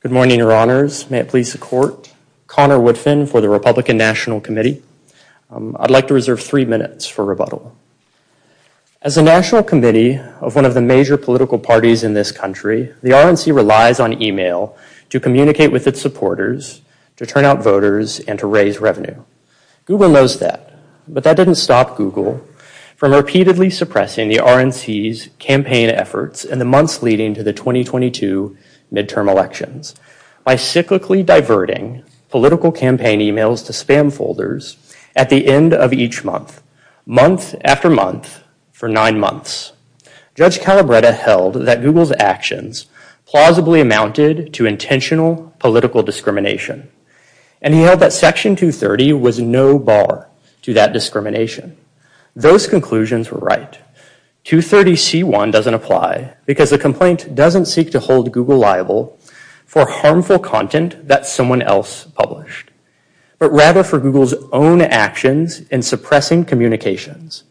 Good morning. Your honors, may it please the court. Conor Woodfin for the Republican National Committee. I'd like to reserve 3 minutes for rebuttal. As a national committee of one of the major political parties in this country, the RNC relies on email to communicate with its supporters, to turn out voters and to raise revenue. Google knows that, but that didn't stop Google from repeatedly suppressing the RNC's campaign efforts in the months leading to the 2022 midterm elections by cyclically diverting political campaign emails to spam folders at the end of each month, month after month for nine months. Judge Calabretta held that Google's actions plausibly amounted to intentional political discrimination. And he held that section 230 was no bar to that discrimination. Those conclusions were right. 230 C1 doesn't apply because the complaint doesn't seek to hold Google liable for harmful content that someone else published, but rather for Google's own actions in suppressing communications.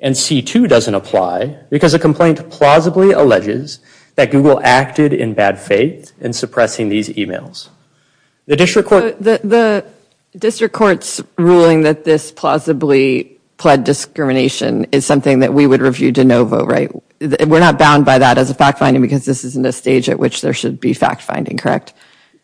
And C2 doesn't apply because the complaint plausibly alleges that Google acted in bad faith in suppressing these emails. The district court... The district court's ruling that this plausibly pled discrimination is something that we would review de novo, right? We're not bound by that as a fact finding because this isn't a stage at which there should be fact finding,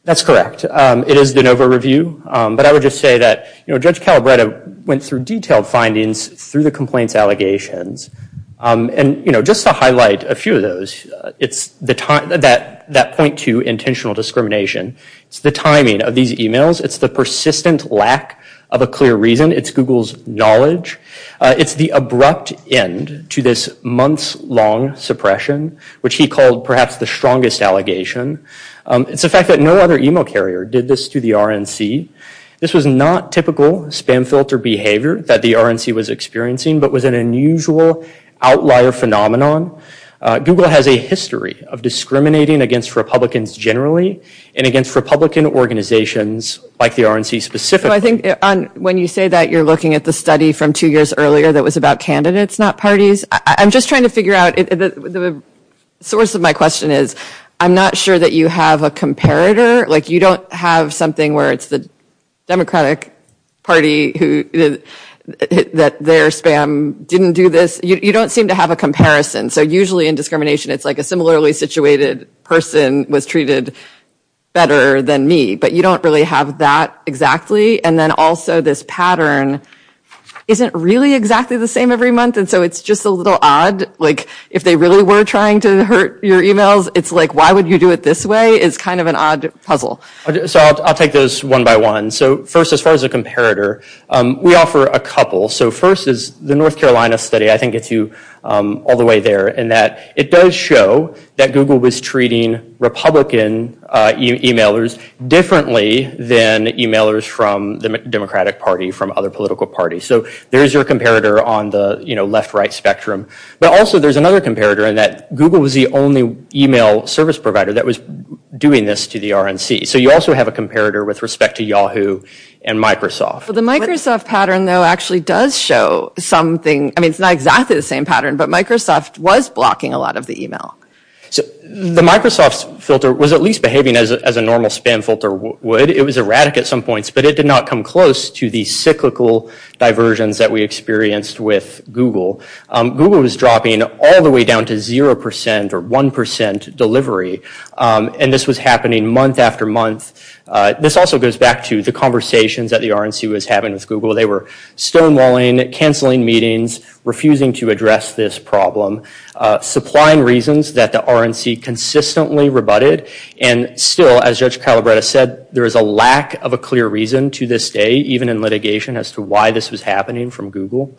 That's correct. It is de novo review. But I would just say that, you know, Judge Calabretta went through detailed findings through the complaints allegations. And, you know, just to highlight a few of those, it's the time that that point to intentional discrimination. It's the timing of these emails. It's the persistent lack of a clear reason. It's Google's knowledge. It's the abrupt end to this months long suppression, which he called perhaps the strongest allegation. It's the fact that no other email carrier did this to the RNC. This was not typical spam filter behavior that the RNC was experiencing, but was an unusual outlier phenomenon. Google has a history of discriminating against Republicans generally and against Republican organizations like the RNC specific. So I think when you say that you're looking at the study from two years earlier that was about candidates, not parties. I'm just trying to figure out the source of my question is, I'm not sure that you have a comparator. Like you don't have something where it's the Democratic Party that their spam didn't do this. You don't seem to have a comparison. So usually in discrimination it's like a similarly situated person was treated better than me, but you don't really have that exactly. And then also this pattern isn't really exactly the same every month. And so it's just a little odd. Like if they really were trying to hurt your emails, it's like, why would you do it this way? It's kind of an odd puzzle. So I'll take those one by one. So first, as far as a comparator, we offer a couple. So first is the North Carolina study, I think it's all the way there, in that it does show that Google was treating Republican emailers differently than emailers from the Democratic Party, from other political parties. So there's your comparator on the left-right spectrum. But also there's another comparator in that Google was the only email service provider that was doing this to the RNC. So you also have a comparator with respect to Yahoo and Microsoft. The Microsoft pattern, though, actually does show something. I mean, it's not exactly the same pattern, but Microsoft was blocking a lot of the email. So the Microsoft filter was at least behaving as a normal spam filter would. It was erratic at some points, but it did not come close to the cyclical diversions that we experienced with Google. Google was dropping all the way down to 0% or 1% delivery. And this was happening month after month. This also goes back to the conversations that the RNC was having with Google. They were stonewalling, cancelling meetings, refusing to address this problem, supplying reasons that the RNC consistently rebutted. And still, as Judge Calabretta said, there is a lack of a clear reason to this day, even in litigation, as to why this was happening from Google.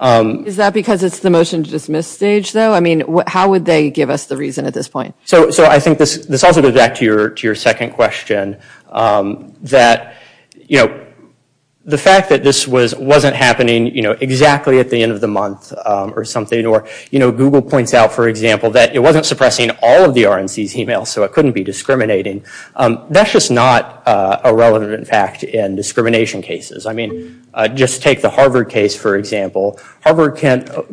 Is that because it's the motion to dismiss stage, though? I mean, how would they give us the reason at this point? So I think this also goes back to your second question, that the fact that this wasn't happening exactly at the end of the month or something, or Google points out, for example, that it wasn't suppressing all of the RNC's emails, so it couldn't be discriminating. That's just not a relevant fact in discrimination cases. I mean, just take the Harvard case, for example. Harvard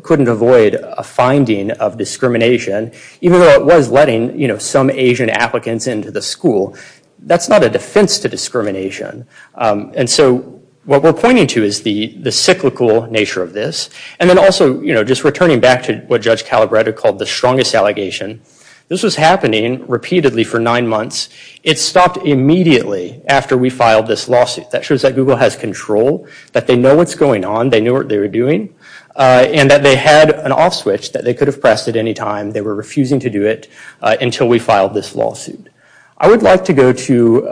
couldn't avoid a finding of discrimination, even though it was letting some Asian applicants into the school. That's not a defense to discrimination. And so what we're pointing to is the cyclical nature of this. And then also, just returning back to what Judge Calabretta called the strongest allegation, this was happening repeatedly for nine months. It stopped immediately after we filed this lawsuit. That shows that Google has control, that they know what's going on, they knew what they were doing, and that they had an off switch that they could have pressed at any time. They were refusing to do it until we filed this lawsuit. I would like to go to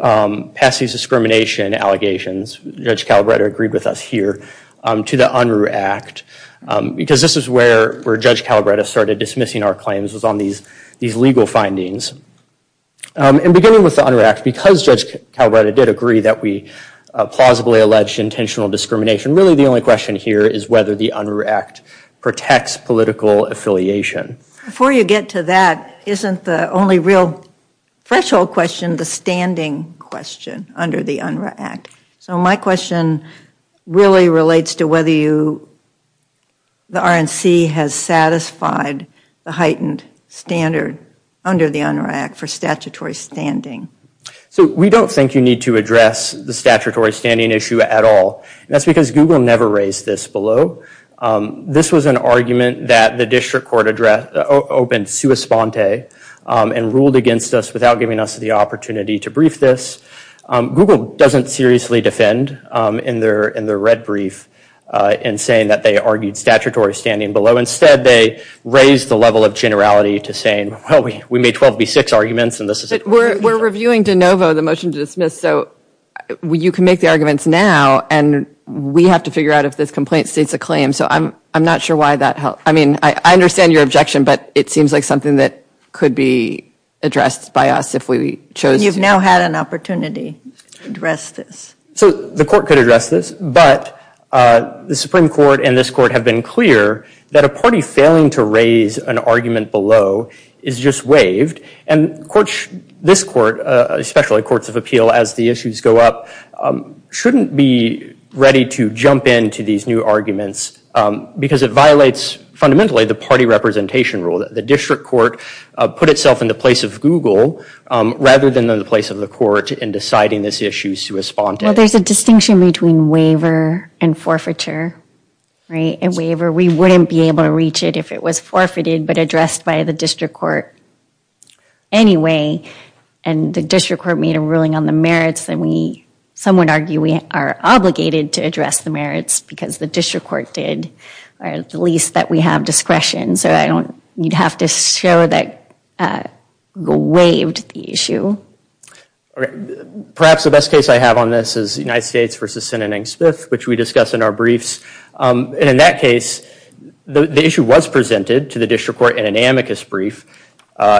Patsy's discrimination allegations. Judge Calabretta agreed with us here to the Unruh Act, because this is where Judge Calabretta started dismissing our claims, was on these legal findings. And beginning with the Unruh Act, because Judge Calabretta did agree that we plausibly alleged intentional discrimination, really the only question here is whether the Unruh Act protects political affiliation. Before you get to that, isn't the only real threshold question the standing question? heightened standard under the Unruh Act. So my question really relates to whether you, the RNC has satisfied the heightened standard under the Unruh Act for statutory standing. So we don't think you need to address the statutory standing issue at all. That's because Google never raised this below. This was an argument that the RNC had the opportunity to brief this. Google doesn't seriously defend in their red brief in saying that they argued statutory standing below. Instead, they raised the level of generality to saying, well, we made 12 v. 6 arguments, and this is it. We're reviewing de novo the motion to dismiss. So you can make the arguments now, and we have to figure out if this complaint states a claim. So I'm not sure why that helped. I mean, I understand your objection, but it seems like something that could be addressed by us if we chose to And we now had an opportunity to address this. So the court could address this, but the Supreme Court and this court have been clear that a party failing to raise an argument below is just waived. And this court, especially courts of appeal, as the issues go up, shouldn't be ready to jump into these new arguments because it violates, fundamentally, the party representation rule. The district court put itself into place of Google rather than the place of the court in deciding this issue to respond to. Well, there's a distinction between waiver and forfeiture, right? A waiver, we wouldn't be able to reach it if it was forfeited, but addressed by the district court. Anyway, and the district court made a ruling on the merits that we, some would argue we are obligated to address the merits because the district court did, or at least that we have discretion. So I don't, you'd have to show that Google waived the issue. All right. Perhaps the best case I have on this is United States versus Sinnon and Smith, which we discussed in our briefs. And in that case, the issue was presented to the district court in an amicus brief, I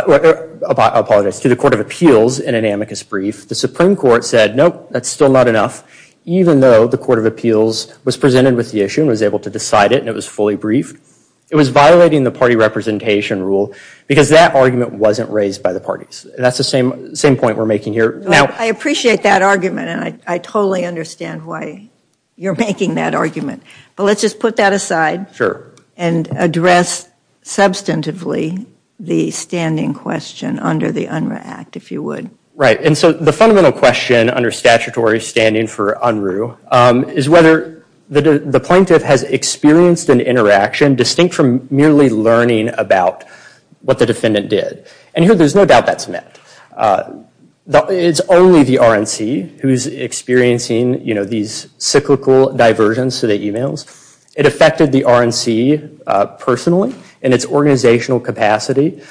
apologize, to the court of appeals in an amicus brief. The Supreme Court said, nope, that's still not enough, even though the court of appeals was presented with the issue and was able to decide it and it was fully briefed. It was violating the party representation rule because that argument wasn't raised by the parties. And that's the same argument we're making here. I appreciate that argument and I totally understand why you're making that argument. But let's just put that aside. And address substantively the standing question under the UNRRA Act, if you would. Right. And so the fundamental question under statutory standing for UNRRA is whether the plaintiff has experienced an interaction distinct from merely learning about what the defendant did. And here there's no doubt that's There's no doubt about that. It's only the RNC who's experiencing, you know, these cyclical diversions to the emails. It affected the RNC personally and its organizational capacity.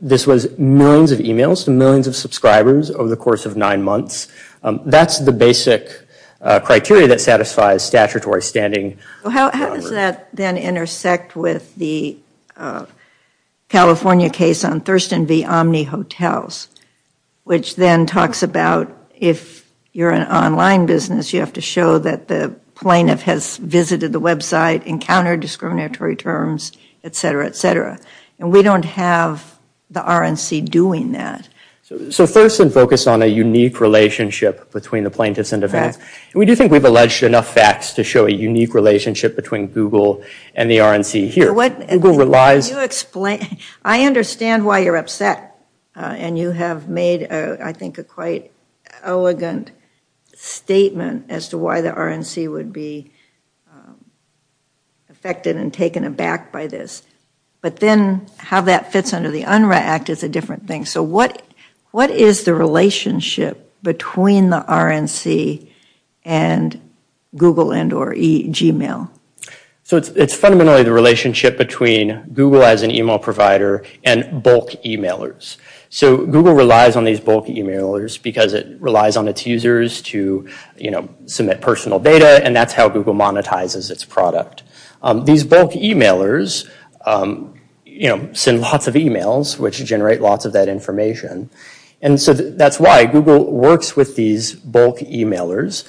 This was millions of emails to millions of subscribers over the course of nine months. That's the basic criteria that satisfies statutory standing. How does that then intersect with the California case on Thurston v. Omni Hotels, which then talks about if you're an online business, you have to show that the plaintiff has visited the website, encountered discriminatory terms, et cetera, et cetera. And we don't have the RNC doing that. So Thurston focused on a unique relationship between the plaintiffs and defendants. We do think we've alleged enough facts to show a unique relationship between Google and the RNC here. Google relies Can you explain? I understand why you're upset. And you have made, I think, a quite elegant statement as to why the RNC would be affected and taken aback by this. But then how that fits under the UNRRA Act is a different thing. So what is the relationship between the RNC and Google and or Gmail? So it's fundamentally the relationship between Google as an email provider and bulk emailers. So Google relies on these bulk emailers because it relies on its users to, you know, submit personal data. And that's how Google monetizes its product. These bulk emailers, you know, send lots of emails, which generate lots of that And so that's why Google works with these bulk emailers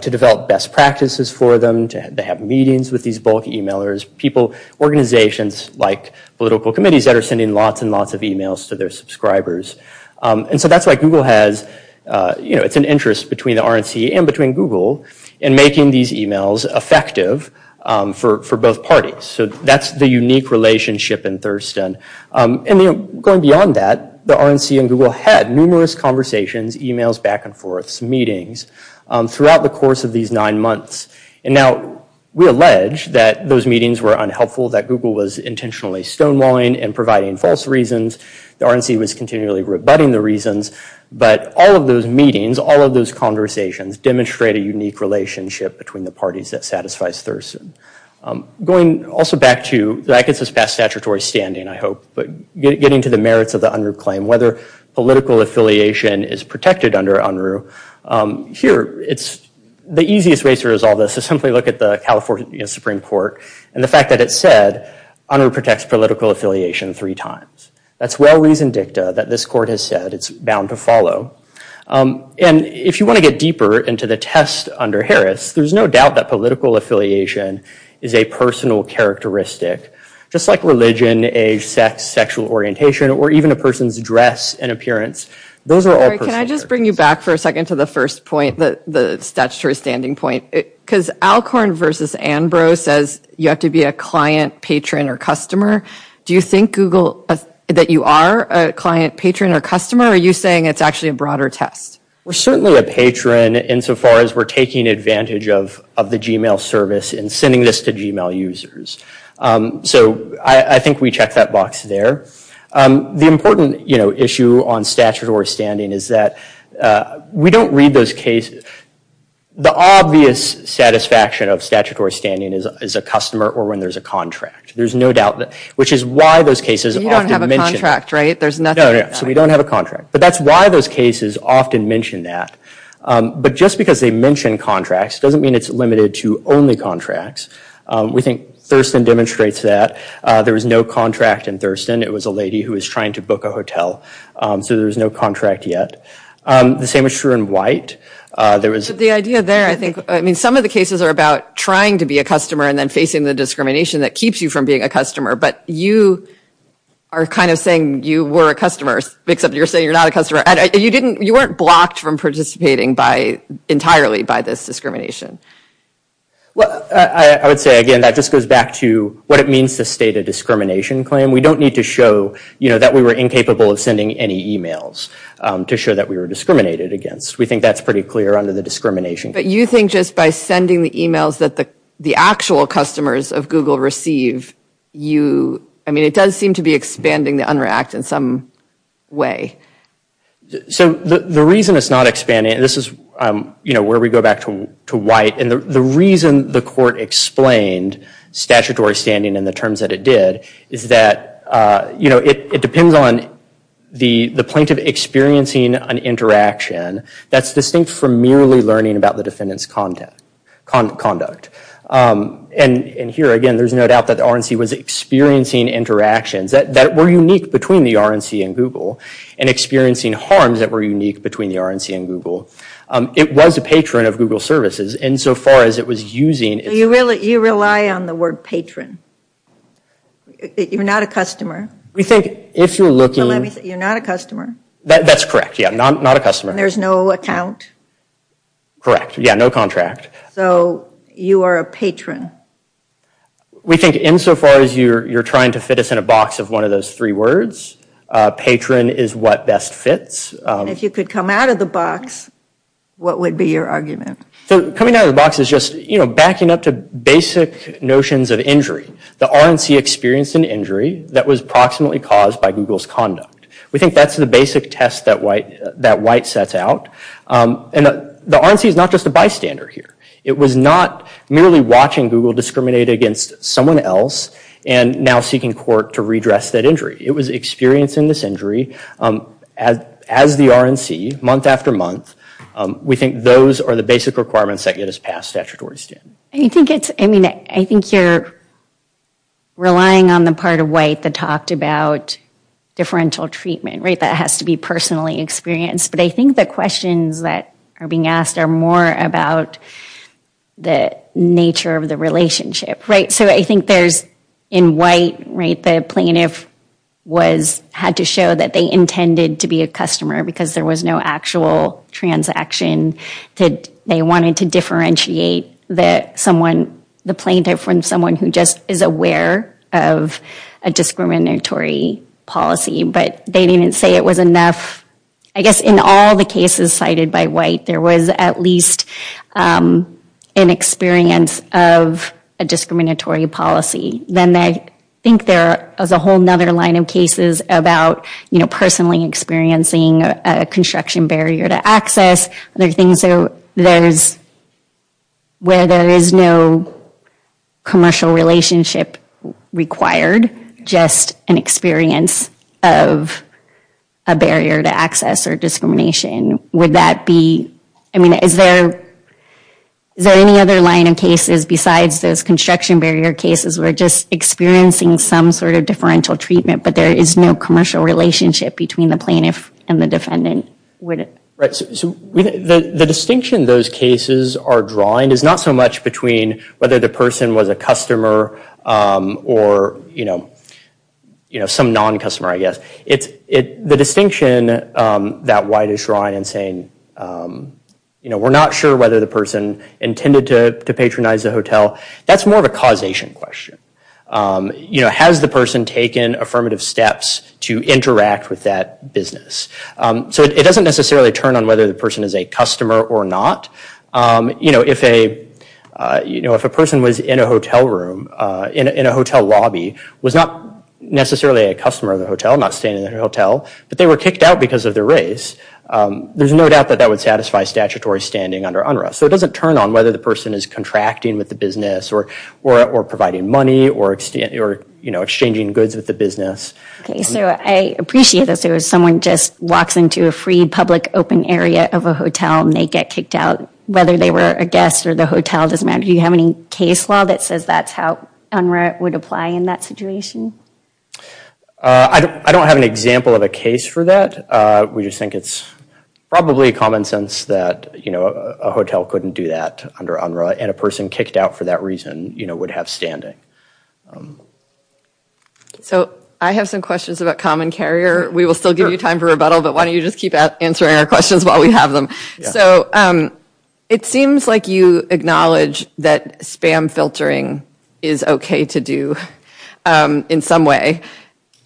to develop best practices for them to have meetings with these bulk emailers. Organizations like political committees that are sending lots and lots of emails to their subscribers. And so that's why Google has, you know, it's an interest between the RNC and between Google in making these emails effective for both parties. So that's the unique relationship in Thurston. And, you know, going beyond that the RNC and Google had numerous conversations, emails back and forth, some meetings throughout the course of these nine months. And now we allege that those meetings were unhelpful, that Google was intentionally stonewalling and providing false reasons. The RNC was continually rebutting the reasons. But all of those meetings, all of those conversations demonstrate a unique relationship between the parties that satisfies Thurston. Going also back to, that gets us past statutory standing, I hope, but getting to the merits of the UNRU claim, whether political affiliation is protected under UNRU. Here, it's the easiest way to resolve this is simply look at the California Supreme Court and the fact that it said UNRU protects political affiliation three times. That's well-reasoned dicta that this court has said it's bound to And if you want to get deeper into the test under Harris, there's no doubt that political affiliation is a personal characteristic, just like religion, age, sex, sexual orientation, or even a person's dress and appearance. Those are all personal Can I just bring you back for a second to the first point, the statutory standing point? Because Alcorn versus Anbro says you have to be a client, patron, or customer. Do you think, Google, that you are a client, patron, or customer? Or are you saying it's actually a broader test? We're certainly a patron insofar as we're taking advantage of the Gmail service and sending this to Gmail users. So I think we check that box there. The important issue on statutory standing is that we don't read those cases. The obvious satisfaction of statutory standing is a customer or when there's a contract. There's no doubt. Which is why those cases often You don't have a contract, right? No, no. So we don't have a contract. But that's why those cases often mention that. But just because they mention contracts doesn't mean it's limited to only contracts. We think Thurston demonstrates that. There was no contract in It was a lady who was trying to book a hotel. So there was no contract yet. The same is true in White. The idea there, I think, some of the cases are about trying to be a customer and then facing the discrimination that keeps you from being a customer. But you are kind of saying you were a customer, except you're saying you're not a customer. You weren't blocked from participating entirely by this discrimination. Well, I would say, again, that just goes back to what it means to state a discrimination claim. We don't need to show that we were incapable of sending any e-mails to show that we were discriminated against. We think that's pretty clear under the discrimination. But you think just by sending the e-mails that the actual customers of Google receive, you, I mean, it does seem to be expanding the UNRRAC in some way. So the reason it's not expanding, and this is, you know, where we go back to White and the reason the court explained statutory standing in the terms that it did is that, you know, it depends on the plaintiff experiencing an interaction that's distinct from merely learning about the defendant's conduct. And here, again, there's no doubt that the RNC was experiencing interactions that were unique between the RNC and Google and experiencing harms that were unique between the RNC and Google. It was a patron of Google Services insofar as it was using... You rely on the word patron. You're not a customer. We think if you're looking... So let me say, you're not a That's correct, yeah. Not a customer. And there's no account? Correct. Yeah, no contract. So you are a patron. We think insofar as you're trying to fit us in a box of one of those three words, patron is what best fits. And if you could come out of the box, what would be your So coming out of the box is just, you know, backing up to basic notions of injury. The RNC experienced an injury that was proximately caused by Google's conduct. We think that's the basic test that white sets out. And the RNC is not just a bystander here. It was not merely watching Google discriminate against someone else and now seeking court to redress that injury. It was experiencing this injury as the RNC, month after month. We think those are the basic requirements that get us past statutory standards. I think it's... I mean, I think you're relying on the part of white that talked about differential treatment, right? That has to be personal But I think the questions that are being asked are more about the nature of the relationship, right? So I think there's, in white, right, the plaintiff had to show that they intended to be a customer because there was no actual transaction. They wanted to differentiate the plaintiff from someone who just is aware of a discriminatory policy. But they didn't say it was I guess in all the cases cited by white, there was at least an experience of a discriminatory policy. Then I think there is a whole other line of cases about, you know, personally experiencing a construction barrier to access other things. So there's... Where there is no commercial relationship required, just an experience of a barrier to access or discrimination, would that be... I mean, is there any other line of cases besides those construction barrier cases where just experiencing some sort of differential treatment but there is no commercial relationship between the plaintiff and the defendant? Right. So the distinction those cases are drawing is not so much between whether the person was a customer or, you know, some non-customer, I guess. It's the distinction that white is drawing and saying, you know, we're not sure whether the person intended to patronize the That's more of a causation question. You know, has the person taken affirmative steps to interact with that business? So it doesn't necessarily turn on whether the person is a customer or not. You know, if a person was in a hotel room, in a hotel lobby, was not necessarily a customer of the hotel, not staying in a hotel, but they were kicked out because of their race, there's no doubt that that would satisfy statutory standing under UNRRA. So it doesn't turn on whether the person is contracting with the business or providing money or, you know, exchanging goods with the business. Okay. So I appreciate this. If someone just walks into a free public open area of a hotel and they get kicked out, whether they were a guest or the hotel, it doesn't matter. Do you have any case law that says that's how UNRRA would apply in that situation? I don't have an example of a case for that. We just think it's probably common sense that, you know, a hotel couldn't do that under UNRRA and a person kicked out for that reason, you know, would have standing. So I have some questions about common carrier. We will still give you time for rebuttal, but why don't you just keep answering our questions while we have them. So it seems like you acknowledge that spam filtering is okay to do in some way,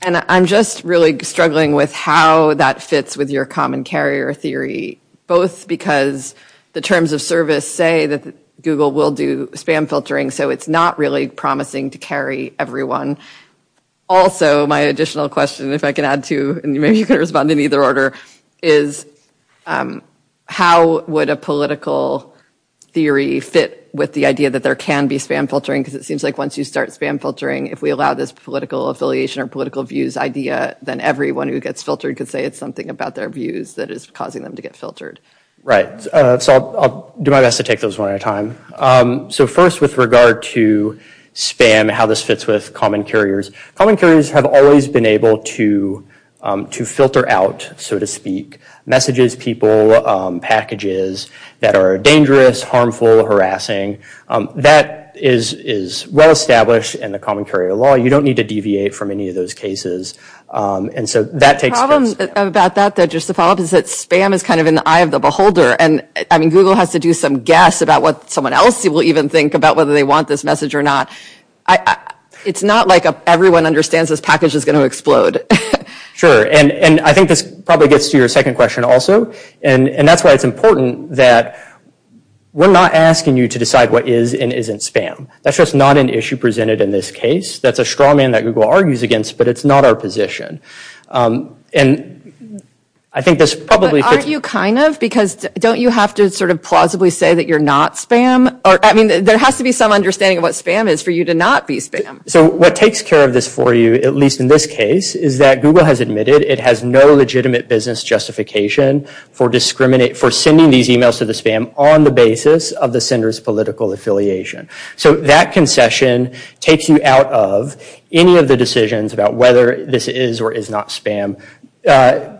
and I'm just really struggling with how that fits with your common carrier theory, both because the terms of service say that Google will do spam filtering, so it's not really promising to carry everyone. Also, my additional question, if I can add to, and maybe you can respond in either order, is how would a political theory fit with the idea that there can be spam filtering, because it seems like once you start spam filtering, if we allow this political affiliation or political views idea, then everyone who gets filtered could say it's something about their views that is causing them to get filtered. Right. So I'll do my best to take those one at a time. So first, with regard to spam, how this fits with common carriers, common carriers have always been able to filter out, so to speak, messages, people, packages that are dangerous, harmful, harassing. That is well established in the common carrier law. You don't need to deviate from any of those cases, and so that takes place. The problem about that, though, just to follow up, is that spam is kind of in the eye of the beholder, and Google has to do some guess about what someone else will even think about whether they want this message or not. It's not like everyone understands this package is going to explode. Sure, and I think this probably gets to your second question also, and that's why it's important that we're not asking you to decide what is and isn't spam. That's just not an issue presented in this case. That's a straw man that Google argues against, but it's not our position, and I think this probably fits. But aren't you kind of? Because don't you have to sort of plausibly say that you're not spam? I mean, there has to be some understanding of what spam is for you to not be spam. So what takes care of this for you, at least in this case, is that Google has admitted it has no legitimate business justification for sending these emails to the spam on the basis of the sender's political affiliation. So that concession takes you out of any of the decisions about whether this is or is not spam.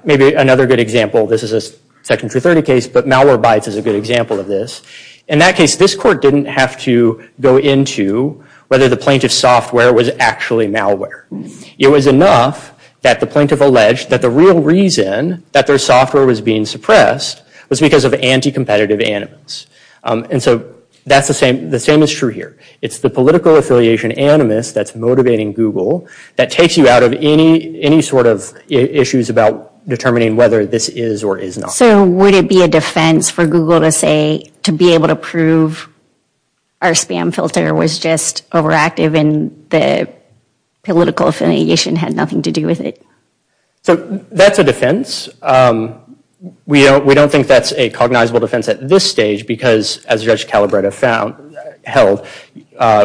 Maybe another good example, this is a Section 230 case, but Malwarebytes is a good example of this. In that case, this court didn't have to go into whether the plaintiff's software was actually malware. It was enough that the plaintiff alleged that the real reason that their software was being suppressed was because of anti-competitive animals. And so that's the same as true here. It's the political affiliation animus that's motivating Google that takes you out of any sort of issues about determining whether this is or is not. So would it be a defense for Google to say, to be able to prove our spam filter was just overactive and the political affiliation had nothing to do with it? So that's a defense. We don't think that's a cognizable defense at this stage because, as Judge Calabretta held,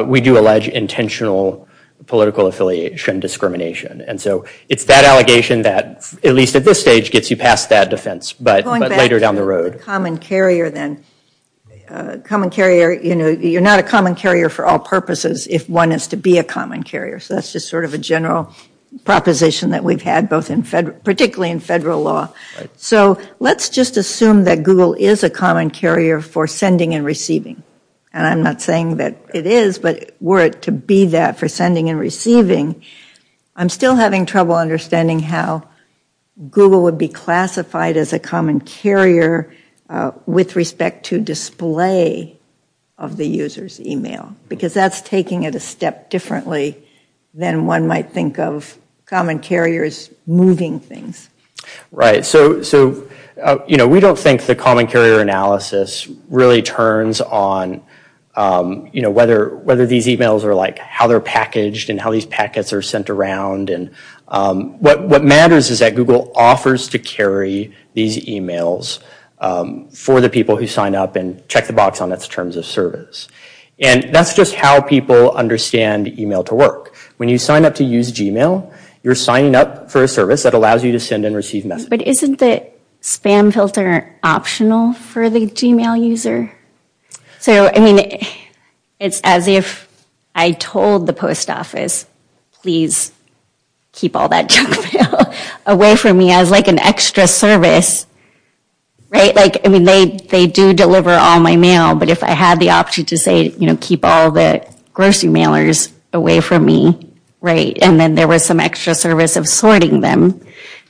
we do allege intentional political affiliation discrimination. And so it's that allegation that, at least at this stage, gets you past that defense, but later down the road. Going back to the common carrier, then. You're not a common carrier for all purposes if one is to be a common carrier. So that's just sort of a general proposition that we've had, particularly in federal law. So let's just assume that Google is a common carrier for sending and receiving. And I'm not saying that it is, but were it to be that, for sending and receiving, I'm still having trouble understanding how Google would be classified as a common carrier with respect to display of the user's email, because that's taking it a step differently than one might think of common carriers moving things. Right. So we don't think the common carrier analysis really turns on whether these emails are like how they're packaged and how these packets are sent around. And what matters is that Google offers to carry these emails for the people who sign up and check the box on its terms of service. And that's just how people understand email to work. When you sign up to use Gmail, you're signing up for a service that allows you to send and receive messages. But isn't the spam filter optional for the Gmail user? So, I mean, it's as if I told the post office, please keep all that junk mail away from me as like an extra service. Right? Like, I mean, they do deliver all my mail, but if I had the option to say, you know, keep all the grocery mailers away from me, right, and then there was some extra service of sorting them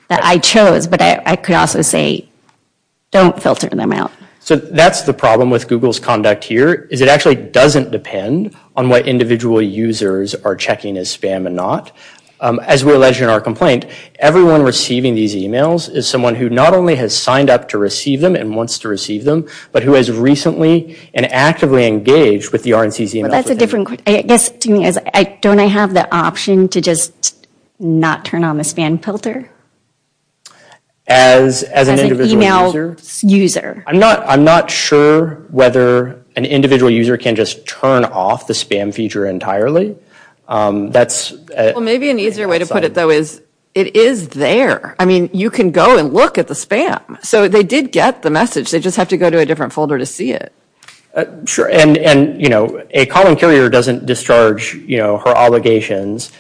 that I chose. But I could also say, don't filter them out. So that's the problem with Google's conduct here, is it actually doesn't depend on what individual users are checking as spam and not. As we allege in our complaint, everyone receiving these emails is someone who not only has signed up to receive them and wants to receive them, but who has recently and actively engaged with the RNC's emails. Well, that's a different question. I guess to me, don't I have the option to just not turn on the spam filter? As an email user. I'm not sure whether an individual user can just turn off the spam feature entirely. Well, maybe an easier way to put it, though, is it is there. I mean, you can go and look at the spam. So they did get the message. They just have to go to a different folder to see it. Sure. And, you know, a column carrier doesn't discharge, you know, her obligations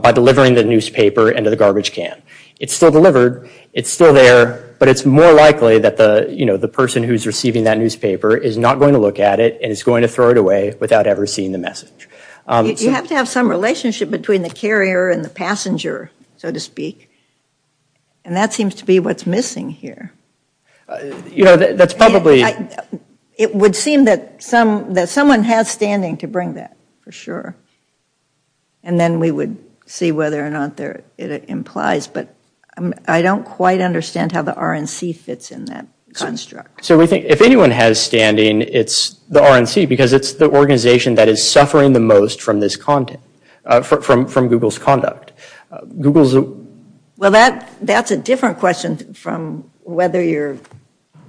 by delivering the newspaper into the garbage can. It's still delivered. It's still there. But it's more likely that the, you know, the person who's receiving that newspaper is not going to look at it and is going to throw it away without ever seeing the message. You have to have some relationship between the carrier and the passenger, so to speak. And that seems to be what's missing here. You know, that's probably... It would seem that someone has standing to bring that, for And then we would see whether or not that's what it implies. But I don't quite understand how the RNC fits in that construct. So we think if anyone has standing, it's the RNC because it's the organization that is suffering the most from this content, from Google's conduct. Google's... Well, that's a different question from whether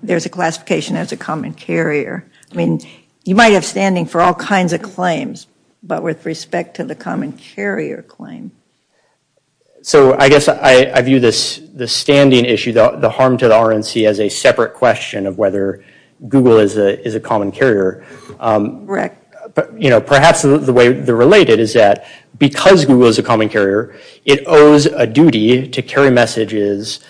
there's a classification as a common carrier. I mean, you might have standing for all kinds of claims, but with respect to the common carrier claim. So I guess I view this standing issue, the harm to the RNC, as a separate question of whether Google is a common carrier. Correct. But perhaps the way they're related is that because Google is a common carrier, it owes a duty to carry messages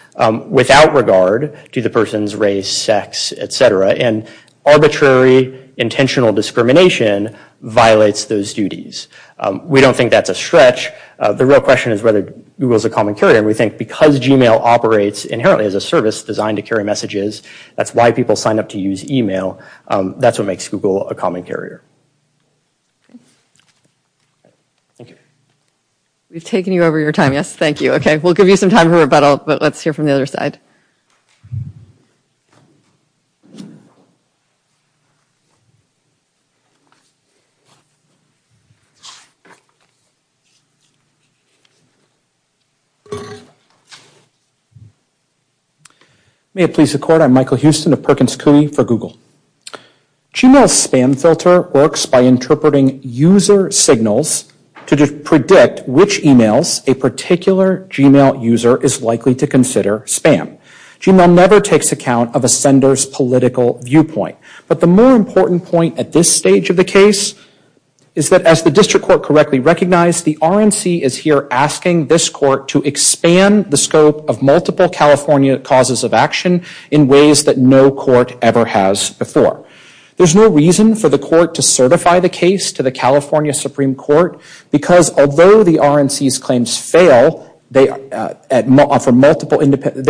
without regard to the person's race, sex, et cetera. And arbitrary, intentional discrimination violates those duties. We don't think that's a The real question is whether Google's a common carrier. And we think because Gmail operates inherently as a service designed to carry messages, that's why people sign up to use email. That's what makes Google a common carrier. Thank you. We've taken you over your time, yes? Thank you. Okay, we'll give you some time for rebuttal, but let's hear from the other side. May it please the court, I'm Michael Huston of Perkins CUNY for Google. Gmail's spam filter works by interpreting user signals to predict which emails a particular Gmail user is likely to consider spam. Gmail never takes account of a sender's political viewpoint. But the more important point at this stage of the case is that as the district court correctly recognized, the RNC is here asking this court to expand the scope of multiple California causes of action in ways that no court ever has before. There's no reason for the court to certify the case to the California Supreme Court because although the RNC's claims fail, they fail for multiple independent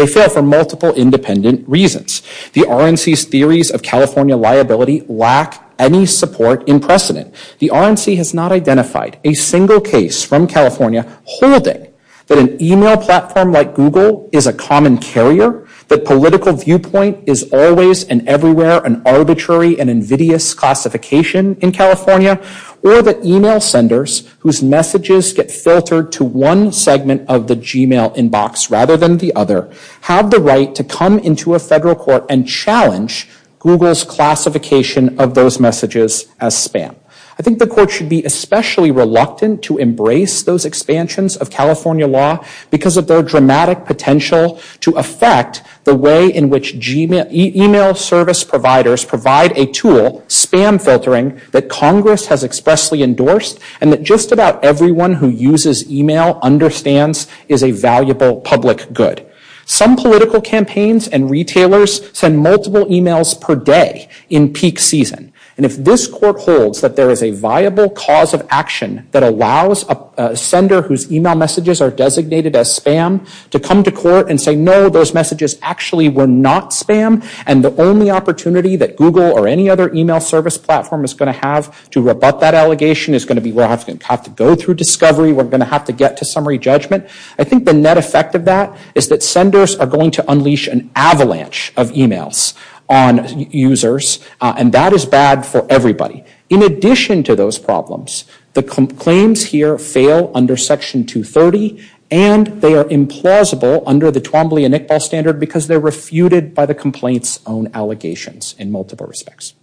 reasons. The RNC's theories of California liability lack any support in precedent. The RNC has not identified a single case from California holding that an email platform like Google is a common carrier, that political viewpoint is always and everywhere an arbitrary and invidious classification in California, or that email senders whose messages get filtered to one segment of the Gmail inbox rather than the other have the right to come into a federal court and challenge Google's classification of those messages as spam. I think the court should be especially reluctant to embrace those expansions of California law because of their dramatic potential to affect the way in which email service providers provide a tool, spam filtering, that Congress has expressly endorsed and that just about everyone who uses email understands is a valuable public good. Some political campaigns and retailers send multiple emails per day in peak season, and if this court holds that there is a viable cause of action that allows a sender whose email messages are designated as spam to come to court and say, no, those messages actually were not spam, and the only opportunity that Google or any other email service platform is going to have to rebut that allegation is going to be we're going to have to go through discovery. We're going to have to get to summary judgment. I think the net effect of that is that senders are going to unleash an avalanche of emails on users, and that is bad for everybody. In addition to those problems, the claims here fail under Section 230, and they are implausible under the Twombly and Iqbal standard because they're refuted by the complaint's own allegations in multiple respects.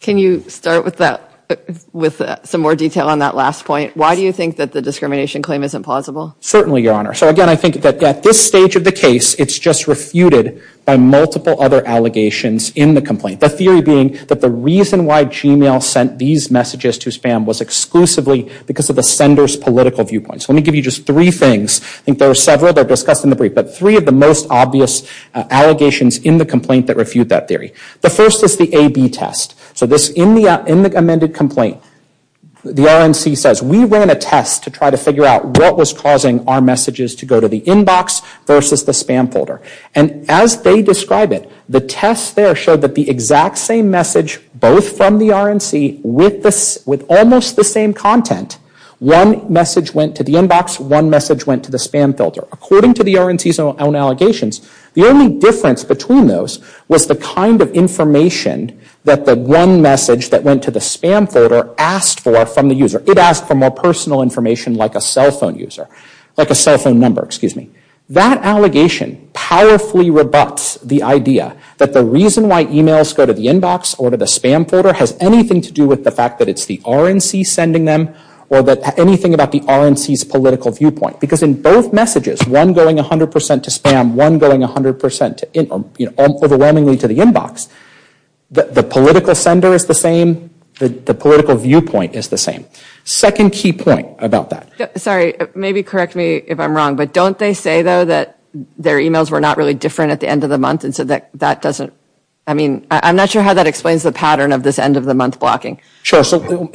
Can you start with some more detail on that last point? Why do you think that the discrimination claim isn't plausible? Certainly, Your Honor. So again, I think that at this stage of the case, it's just refuted by multiple other allegations in the complaint. The theory being that the reason why Gmail sent these messages to spam was exclusively because of the sender's political viewpoint. So let me give you just three things. I think there are several that are discussed in the brief, but three of the most obvious allegations in the complaint that refute that theory. The first is the A-B test. So in the amended complaint, the RNC says, we ran a test to try to figure out what was causing our messages to go to the inbox versus the spam folder. And as they describe it, the test there showed that the exact same message both from the RNC with almost the same content, one message went to the inbox, one message went to the spam folder. According to the RNC's own allegations, the only difference between those was the kind of information that the one message that went to the spam folder asked for from the user. It asked for more personal information like a cell phone number. That allegation powerfully rebuts the idea that the reason why emails go to the inbox or to the spam folder has anything to do with the fact that it's the RNC sending them or anything about the RNC's political viewpoint. Because in both messages, one going 100% to spam, one going 100% overwhelmingly to the inbox, the political sender is the same, the political viewpoint is the same. Second key point about that. Sorry, maybe correct me if I'm wrong, but don't they say though that their emails were not really different at the end of the month? And so that doesn't, I mean, I'm not sure how that explains the pattern of this end of the month blocking. Sure. So going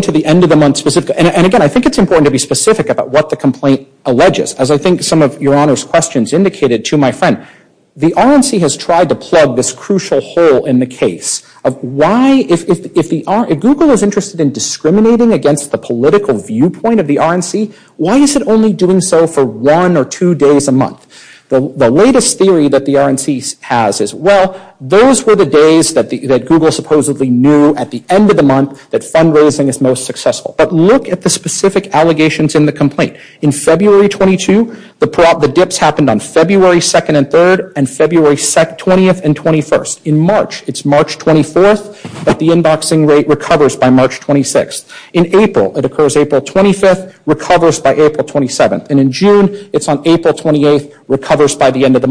to the end of the month specifically, and again, I think it's important to be specific about what the complaint alleges. As I think some of Your Honor's questions indicated to my friend, the RNC has tried to plug this crucial hole in the case of why, if Google is interested in discriminating against the political viewpoint of the RNC, why is it only doing so for one or two days a The latest theory that the RNC has is, well, those were the days that Google supposedly knew at the end of the month that fundraising is most successful. But look at the specific allegations in the complaint. In February 22, the dips happened on February 2nd and 3rd, and February 20th and 21st. In March, it's March 24th, but the inboxing rate recovers by March 26th. In April, it occurs April 25th, recovers by April 27th. And in June, it's on April 28th, recovers by the end of the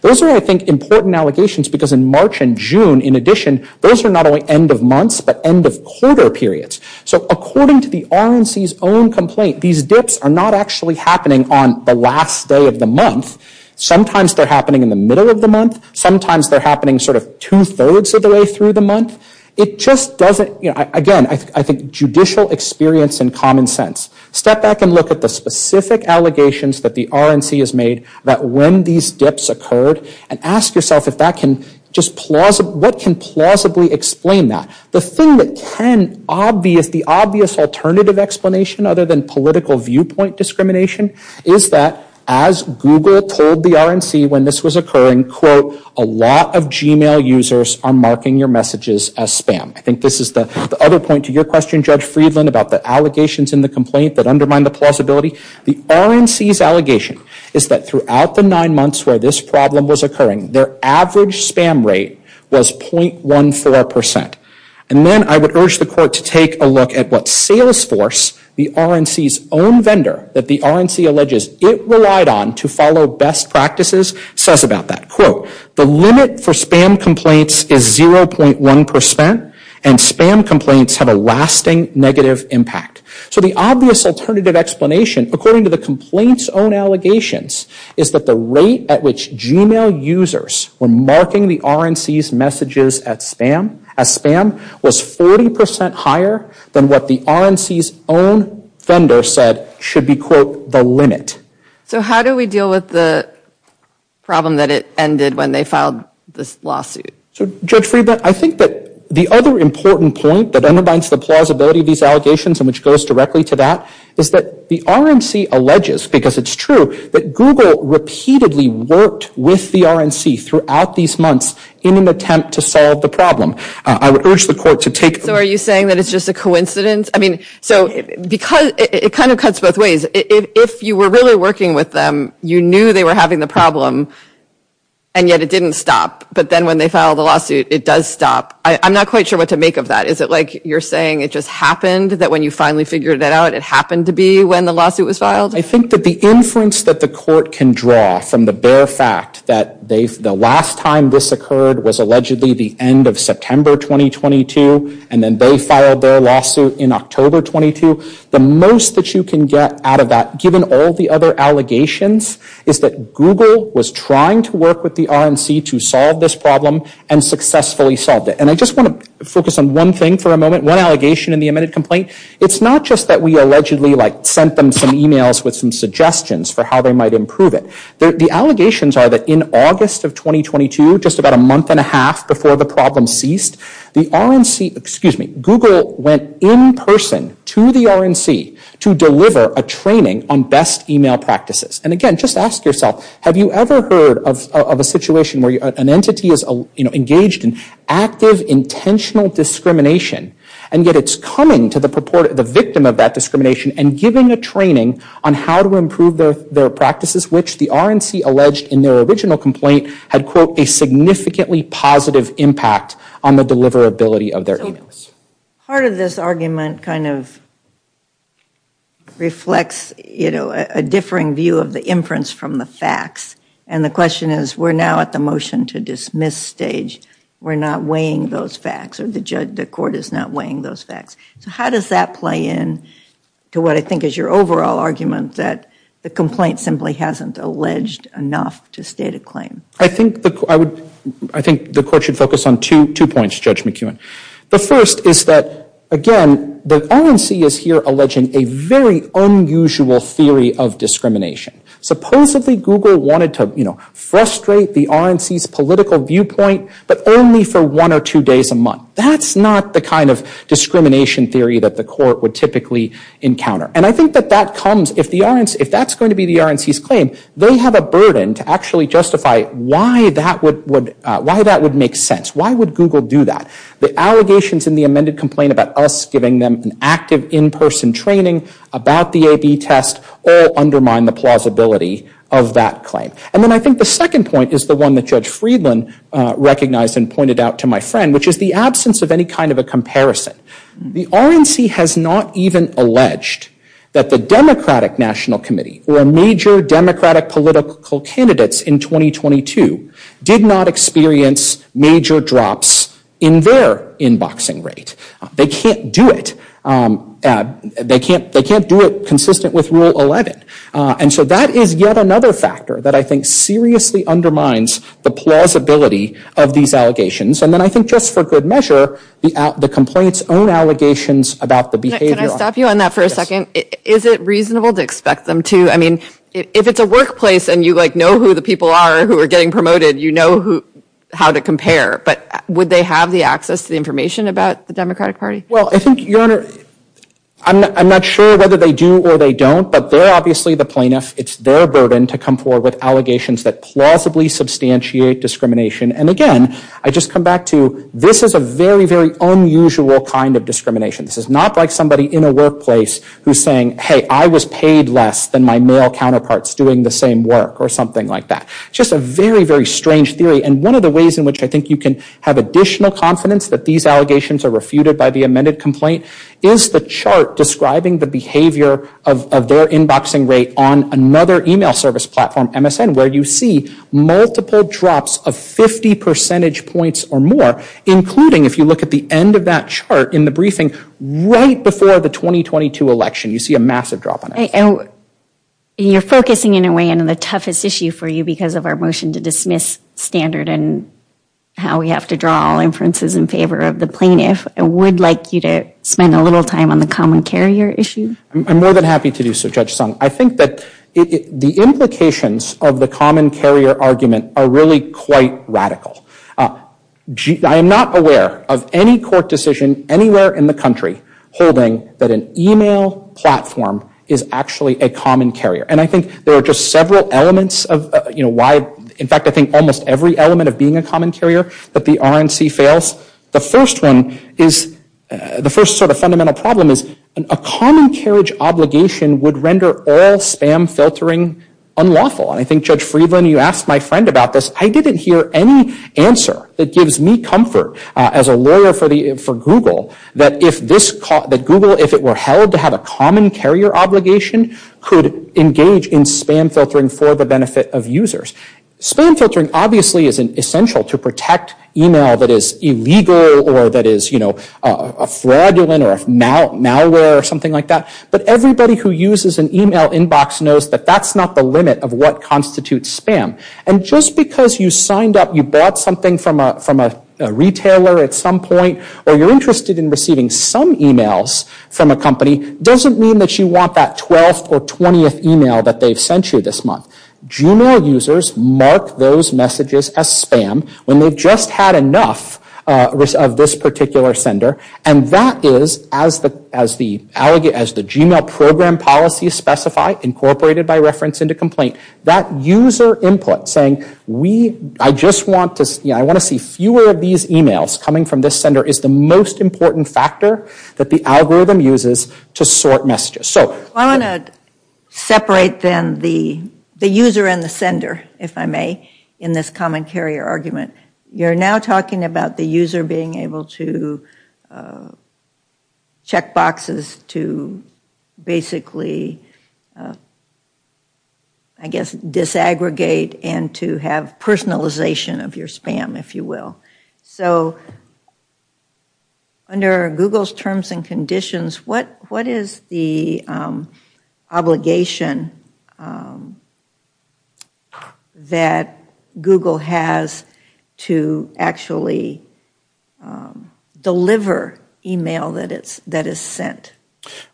Those are, I think, important allegations because in March and June, in addition, those are not only end of months, but end of quarter periods. So according to the RNC's own complaint, these dips are not actually happening on the last day of the month. Sometimes they're happening in the middle of the month. Sometimes they're happening sort of two-thirds of the way through the month. It just doesn't, you know, again, I think judicial experience and common sense. Step back and look at the specific allegations that the RNC has made that when these dips occurred, and ask yourself if that can just, what can plausibly explain that? The thing that can, the obvious alternative explanation other than political viewpoint discrimination, is that as Google told the RNC when this was occurring, quote, a lot of email users are marking your messages as spam. I think this is the other point to your question, Judge Friedland, about the allegations in the complaint that undermine the plausibility. The RNC's allegation is that throughout the nine months where this problem was occurring, their average spam rate was .14%. And then I would urge the court to take a look at what Salesforce, the RNC's own vendor that the RNC alleges it relied on to follow best practices, says about that. Quote, the limit for spam complaints is 0.1%, and spam complaints have a lasting negative impact. So the obvious alternative explanation, according to the complaint's own allegations, is that the rate at which Gmail users were marking the RNC's messages as spam was 40% higher than what the RNC's own vendor said should be, quote, the limit. So how do we deal with the problem that it ended when they filed this lawsuit? So, Judge Friedland, I think that the other important point that undermines the plausibility of these allegations, and which goes directly to that, is that the RNC alleges, because it's true, that Google repeatedly worked with the RNC throughout these months in an attempt to solve the problem. I would urge the court to take the... So are you saying that it's just a coincidence? I mean, so because it kind of cuts both ways. If you were really working with them, you knew they were having the problem, and yet it didn't stop. But then when they filed the lawsuit, it does stop. I'm not quite sure what to make of that. Is it like you're saying it just happened, that when you finally figured it out, it happened to be when the lawsuit was filed? I think that the inference that the court can draw from the bare fact that the last time this occurred was allegedly the end of September 2022, and then they filed their lawsuit in October 22, the most that you can get out of that, given all the other allegations, is that Google was trying to work with the RNC to solve this problem and successfully solved it. And I just want to focus on one thing for a moment, one allegation in the amended complaint. It's not just that we allegedly like sent them some emails with some suggestions for how they might improve it. The allegations are that in August of 2022, just about a month and a half before the problem ceased, the RNC... Excuse me. Google went in person to the RNC to deliver a training on best email practices. And again, just ask yourself, have you ever heard of a situation where an entity is engaged in active, intentional discrimination, and yet it's coming to the victim of that discrimination and giving a training on how to improve their practices, which the RNC alleged in their original complaint had quote, a significantly positive impact on the deliverability of their emails. Part of this argument kind of reflects, you know, a differing view of the inference from the And the question is, we're now at the motion to dismiss stage. We're not weighing those facts, or the court is not weighing those facts. So how does that play in to what I think is your overall argument that the complaint simply hasn't alleged enough to state a claim? I think the court should focus on two points, Judge McEwen. The first is that, again, the RNC is here alleging a very unusual theory of discrimination. Supposedly, Google wanted to, you know, frustrate the RNC's political viewpoint, but only for one or two days a month. That's not the kind of discrimination theory that the court would typically encounter. And I think that that comes, if that's going to be the RNC's claim, they have a burden to actually justify why that would make sense. Why would Google do that? The allegations in the amended complaint about us giving them an active in-person training about the AB test all undermine the plausibility of that claim. And then I think the second point is the one that Judge Friedland recognized and pointed out to my friend, which is the absence of any kind of a The RNC has not even alleged that the Democratic National Committee, or major Democratic political candidates in 2022, did not experience major drops in their inboxing rate. They can't do it. They can't do it consistent with Rule 11. And so that is yet another factor that I think seriously undermines the plausibility of these allegations. And then I think just for good measure, the complaints own allegations about the behavior. Can I stop you on that for a Is it reasonable to expect them to? I mean, if it's a workplace and you know who the people are who are getting promoted, you know how to compare, but would they have the access to the information about the Democratic Party? Well, I think, Your Honor, I'm not sure whether they do or they don't, but they're obviously the plaintiff. It's their burden to come forward with allegations that plausibly substantiate discrimination. And again, I just come back to this is a very, very unusual kind of discrimination. This is not like somebody in a workplace who's saying, hey, I was paid less than my male counterparts doing the same work or something like that. Just a very, very strange theory. And one of the ways in which I think you can have additional confidence that these allegations are refuted by the plaintiff is the chart describing the behavior of their inboxing rate on another email service platform, MSN, where you see multiple drops of 50 percentage points or more, including if you look at the end of that chart in the briefing right before the 2022 election, you see a massive drop on it. And you're focusing in a way on the toughest issue for you because of our motion to dismiss standard and how we have to draw inferences in favor of the plaintiff. I would like you to spend a little time on the common carrier issue. I'm more than happy to do so, Judge Sung. I think that the implications of the common carrier argument are really quite radical. I am not aware of any court decision anywhere in the country holding that an email platform is actually a common carrier. And I think there are just several elements of why, in fact, I think almost every element of being a common carrier, that the RNC fails. The first one is, the first sort of fundamental problem is a common carriage obligation would render all spam filtering unlawful. And I think, Judge Friedland, you asked my friend about this. I didn't hear any answer that gives me comfort as a lawyer for Google that if this, that Google, if it were held to have a common carrier obligation, could engage in spam filtering for the benefit of users. Spam filtering obviously is essential to protect email that is illegal or that is, you know, a fraudulent or a malware or something like that. But everybody who uses an email inbox knows that that's not the limit of what constitutes spam. And just because you signed up, you bought something from a retailer at some point, or you're interested in receiving some emails from a company, doesn't mean that you want that 12th or 20th email that they've sent you this month. Juvenile users mark those messages as spam when they've just had enough of this particular sender. And that is, as the Gmail program policies specify, incorporated by reference into complaint, that user input saying, we, I just want to see, I want to see fewer of these emails coming from this sender is the most important factor that the algorithm uses to sort messages. So... I want to separate then the user and the sender, if I may, in this common carrier argument. You're now talking about the user being able to check boxes to basically, I guess, disaggregate and to have personalization of your spam, if you will. So... Under Google's terms and conditions, what is the obligation that Google has to actually deliver email that is sent?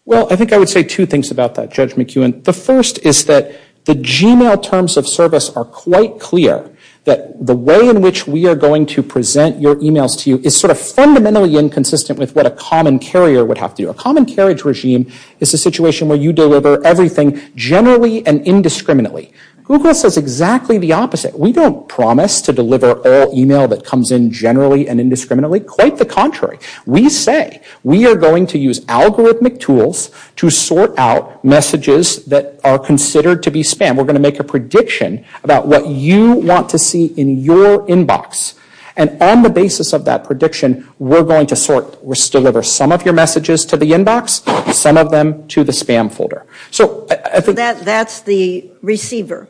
Well, I think I would say two things about that, Judge McEwen. The first is that the Gmail terms of service are quite clear that the way in which we are going to present your emails to you is sort of fundamentally inconsistent with what a common carrier would have to do. A common carriage regime is a way in which you deliver everything generally and indiscriminately. Google says exactly the opposite. We don't promise to deliver all email that comes in generally and indiscriminately. Quite the contrary. We say we are going to use algorithmic tools to sort out messages that are considered to be spam. We're going to make a prediction about what you want to see in your inbox. And on the basis of that prediction, we're going to deliver some of your messages to the inbox, some of them to the spam folder. So that's the receiver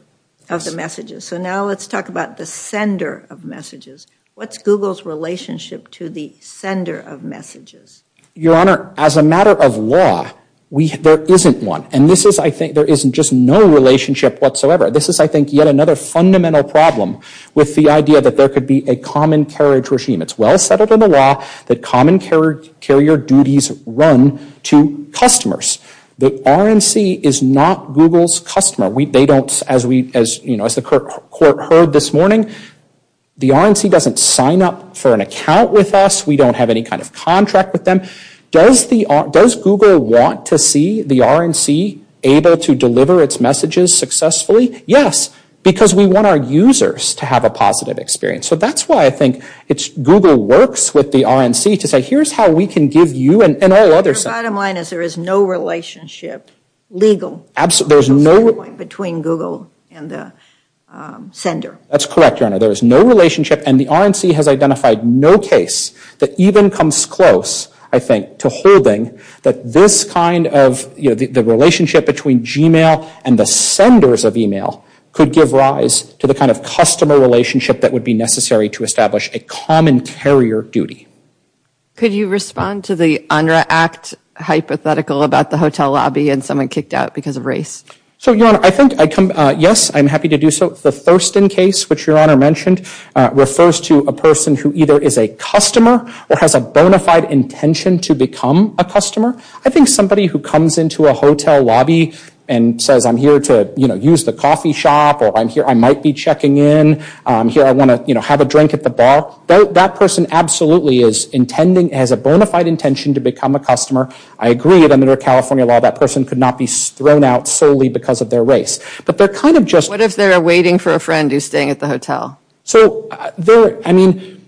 of the messages. So now let's talk about the sender of messages. What's Google's relationship to the sender of messages? Your Honor, as a matter of law, there isn't one. And this is, I think, there isn't just no relationship whatsoever. This is, I think, yet another fundamental problem with the idea that there could be a common carriage regime. It's well settled in the law that common carrier duties run to customers. The RNC is not Google's customer. They don't, as the court heard this morning, the RNC doesn't sign up for an account with us. We don't have any kind of contract with them. Does Google want to see the RNC able to deliver its messages successfully? Yes, because we want our users to have a positive experience. So that's why I think it's Google works with the RNC to say, here's how we can give you and all others. The bottom line is there is no relationship, legal, between Google and the sender. That's correct, Your Honor. There is no relationship. And the RNC has identified no case that even comes close, I think, to holding that this kind of the relationship between Gmail and the senders of email could give rise to the kind of customer relationship that would be necessary to establish a common carrier duty. Could you respond to the UNRRA act hypothetical about the hotel lobby and someone kicked out because of race? So, Your Honor, I think, yes, I'm happy to do so. The Thurston case, which Your Honor mentioned, refers to a person who either is a customer or has a bona fide intention to become a customer. I think somebody who comes into a hotel lobby and says, I'm here to, you know, use the coffee shop, or I'm here, I might be checking in. Here, I want to, you know, have a drink at the bar. That person absolutely is intending, has a bona fide intention to become a customer. I agree that under California law, that person could not be thrown out solely because of their race. But they're kind of just... What if they're waiting for a friend who's staying at the hotel? So, I mean,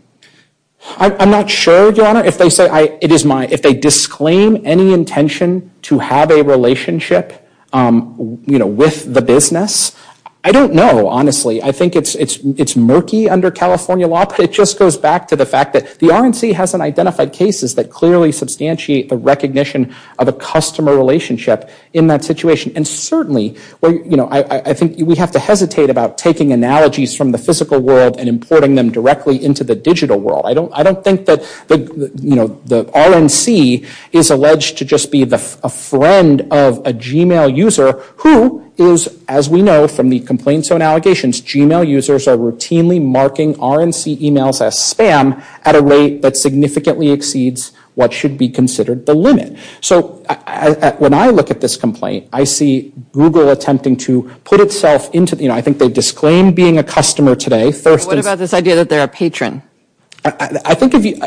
I'm not sure, Your Honor, if they say, it is my, if they disclaim any intention to have a relationship, you know, with the business. I don't know, honestly. I think it's murky under California law, but it just goes back to the fact that the RNC has an identified cases that clearly substantiate the recognition of a customer relationship in that situation. And certainly, you know, I think we have to hesitate about taking analogies from the physical world and importing them directly into the digital world. I don't think that, you know, the RNC is alleged to just be a friend of a Gmail user who is, as we know from the complaint zone allegations, Gmail users are routinely marking RNC emails as spam at a rate that exceeds what should be considered the limit. So, when I look at this complaint, I see Google attempting to put itself into, you know, I think they disclaimed being a customer today. What about this idea that they're a patron? I think if you,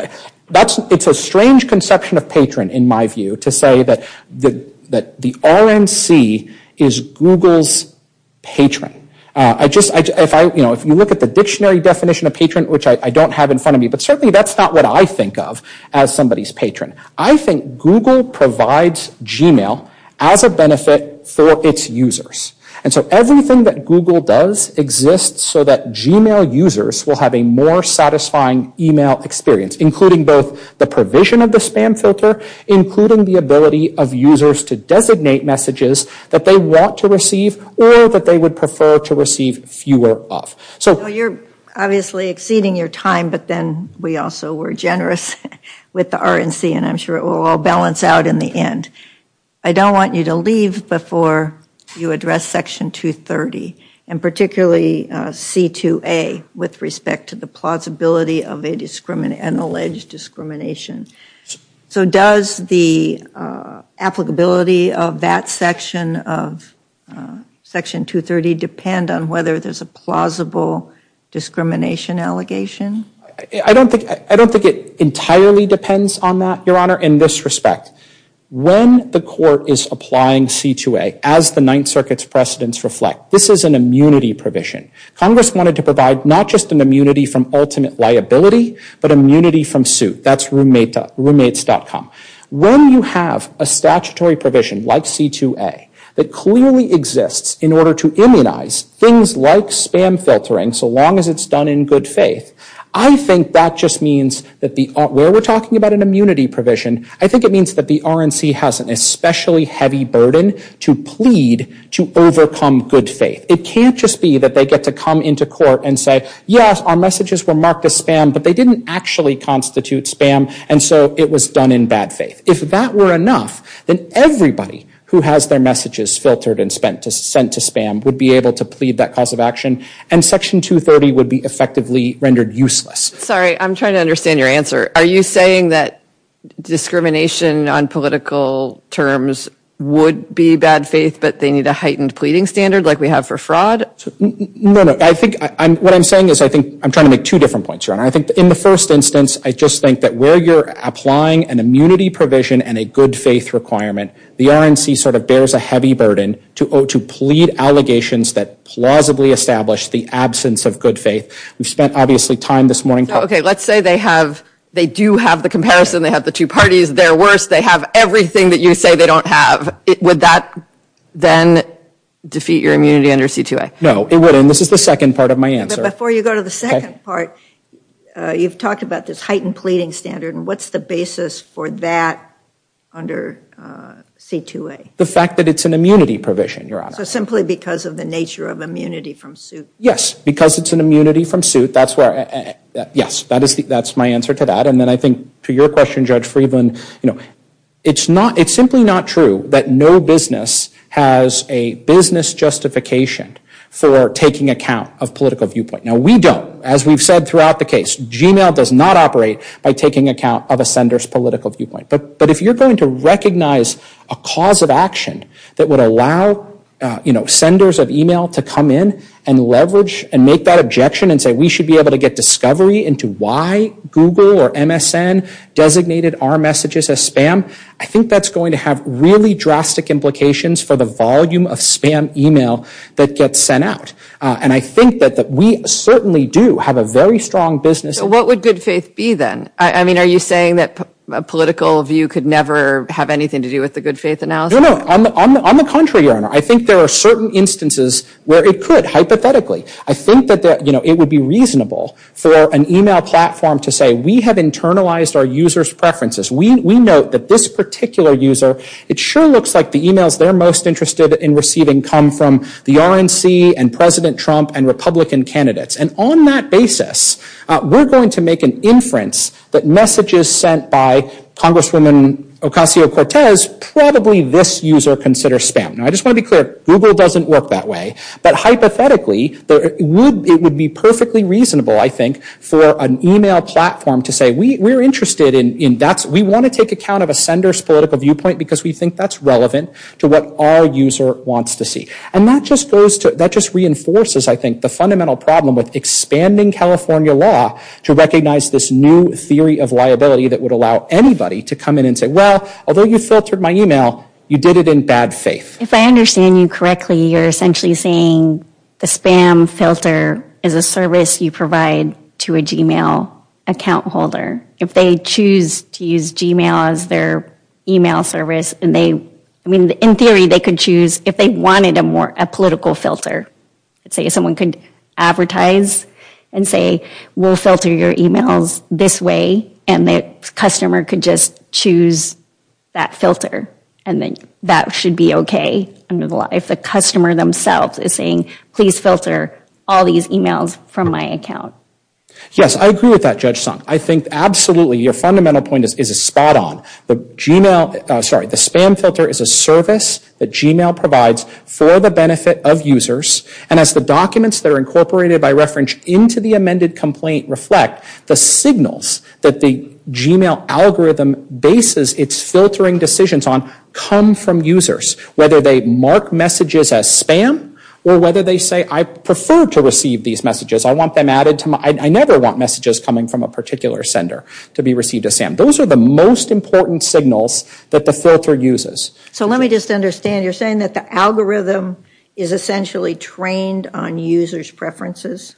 that's, it's a strange conception of patron, in my view, to say that the RNC is Google's patron. I just, if I, you know, if you look at the dictionary definition of patron, which I don't have in front of me, but certainly that's not what I think Google provides Gmail as a benefit for its users. And so, everything that Google does exists so that Gmail users will have a more satisfying email experience, including both the provision of the spam filter, including the ability of users to designate messages that they want to receive or that they would prefer to receive fewer of. So, you're obviously exceeding your time, but then we also were generous with the RNC and I'm sure it will all balance out in the end. I don't want you to leave before you address Section 230 and particularly C2A with respect to the plausibility of an alleged discrimination. So, does the applicability of that section of Section 230 depend on whether there's a plausible discrimination allegation? I don't think it entirely depends on that, Your Honor. In this respect, when the court is applying C2A, as the Ninth Circuit's precedents reflect, this is an immunity provision. Congress wanted to provide not just an immunity from ultimate liability, but immunity from suit. That's roommates.com. When you have a statutory provision like C2A that clearly exists in order to immunize things like spam filtering, so long as it's done in good faith, I think that just means that where we're talking about an immunity provision, I think it means that the RNC has an especially heavy burden to plead to overcome good faith. It can't just be that they get to come into court and say, yes, our messages were marked as spam, but they didn't actually constitute spam, and so it was done in bad faith. If that were enough, then everybody who has their messages filtered and sent to spam would be able to plead that cause of action, and Section 230 would be effectively rendered useless. Sorry, I'm trying to understand your answer. Are you saying that discrimination on political terms would be bad faith, but they need a heightened pleading standard like we have for No, no. I think what I'm saying is I think I'm trying to make two different points, Your Honor. I think in the first instance, I just think that where you're applying an immunity provision and a good faith requirement, the RNC sort of bears a heavy burden to plead allegations that plausibly establish the evidence of good faith. We've spent obviously time this morning. Okay, let's say they have, they do have the comparison, they have the two parties, they're worse, they have everything that you say they don't have. Would that then defeat your immunity under C-2A? No, it wouldn't. This is the second part of my answer. But before you go to the second part, you've talked about this heightened pleading standard, and what's the basis for that under C-2A? The fact that it's an immunity provision, Your Honor. So simply because of the nature of immunity from suit? Yes. Because it's an immunity from suit, that's where, yes, that's my answer to that. And then I think to your question, Judge Friedland, you know, it's simply not true that no business has a business justification for taking account of political viewpoint. Now, we don't. As we've said throughout the case, Gmail does not operate by taking account of a sender's political viewpoint. But if you're going to recognize a cause of action that would allow, you know, senders of email to come in and leverage and make that objection and say we should be able to get discovery into why Google or MSN designated our messages as spam, I think that's going to have really drastic implications for the volume of spam email that gets sent out. And I think that we certainly do have a very strong business So what would good faith be then? I mean, are you saying that a political view could never have anything to do with the good faith analysis? No, no. On the contrary, Your Honor. I think there are certain instances where it could, hypothetically. I think that it would be reasonable for an email platform to say we have internalized our users' preferences. We note that this particular user, it sure looks like the emails they're most interested in receiving come from the RNC and President Trump and Republican candidates. And on that basis, we're going to make an inference that messages sent by Congresswoman Ocasio-Cortez, probably this user considers spam. Now, I just want to be clear, Google doesn't work that way. But hypothetically, it would be perfectly reasonable, I think, for an email platform to say we're interested in, we want to take account of a sender's political viewpoint because we think that's relevant to what our user wants to see. And that just reinforces, I think, the fundamental problem with expanding California law to recognize this new theory of liability that would allow anybody to come in and say, well, although you filtered my email, you did it in bad faith. If I understand you correctly, you're essentially saying the spam filter is a service you provide to a Gmail account holder. If they choose to use Gmail as their email service, and they, I mean, in theory, they could choose if they wanted a more, a political filter. Say someone could advertise and say, we'll filter your emails this way, and the customer could just choose that filter and then that should be okay. If the customer themselves is saying, please filter all these emails from my account. Yes, I agree with that, Judge Sung. I think, absolutely, your fundamental point is spot on. The Gmail, sorry, the spam filter is a service that Gmail provides for the benefit of users. And as the documents that are incorporated by reference into the amended complaint reflect that, the signals that the Gmail algorithm bases its filtering decisions on come from users. Whether they mark messages as spam or whether they say, I prefer to receive these messages. I want them added to my, I never want messages coming from a particular sender to be received as spam. Those are the most important signals that the filter uses. So let me just understand, you're saying that the algorithm is essentially trained on users' preferences?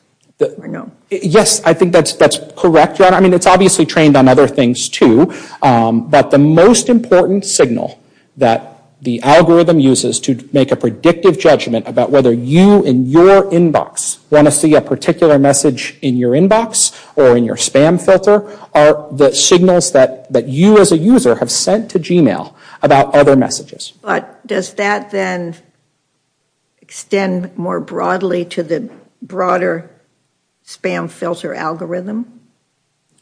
Or no? Yes, I think that's correct, John. I mean, it's obviously trained on other things, too. But the most important signal that the algorithm uses to make a predictive judgment about whether you in your inbox want to see a particular message in your inbox or in your spam filter are the signals that you as a user have sent to Gmail about other messages. But does that then extend more broadly to the broader spam filter algorithm?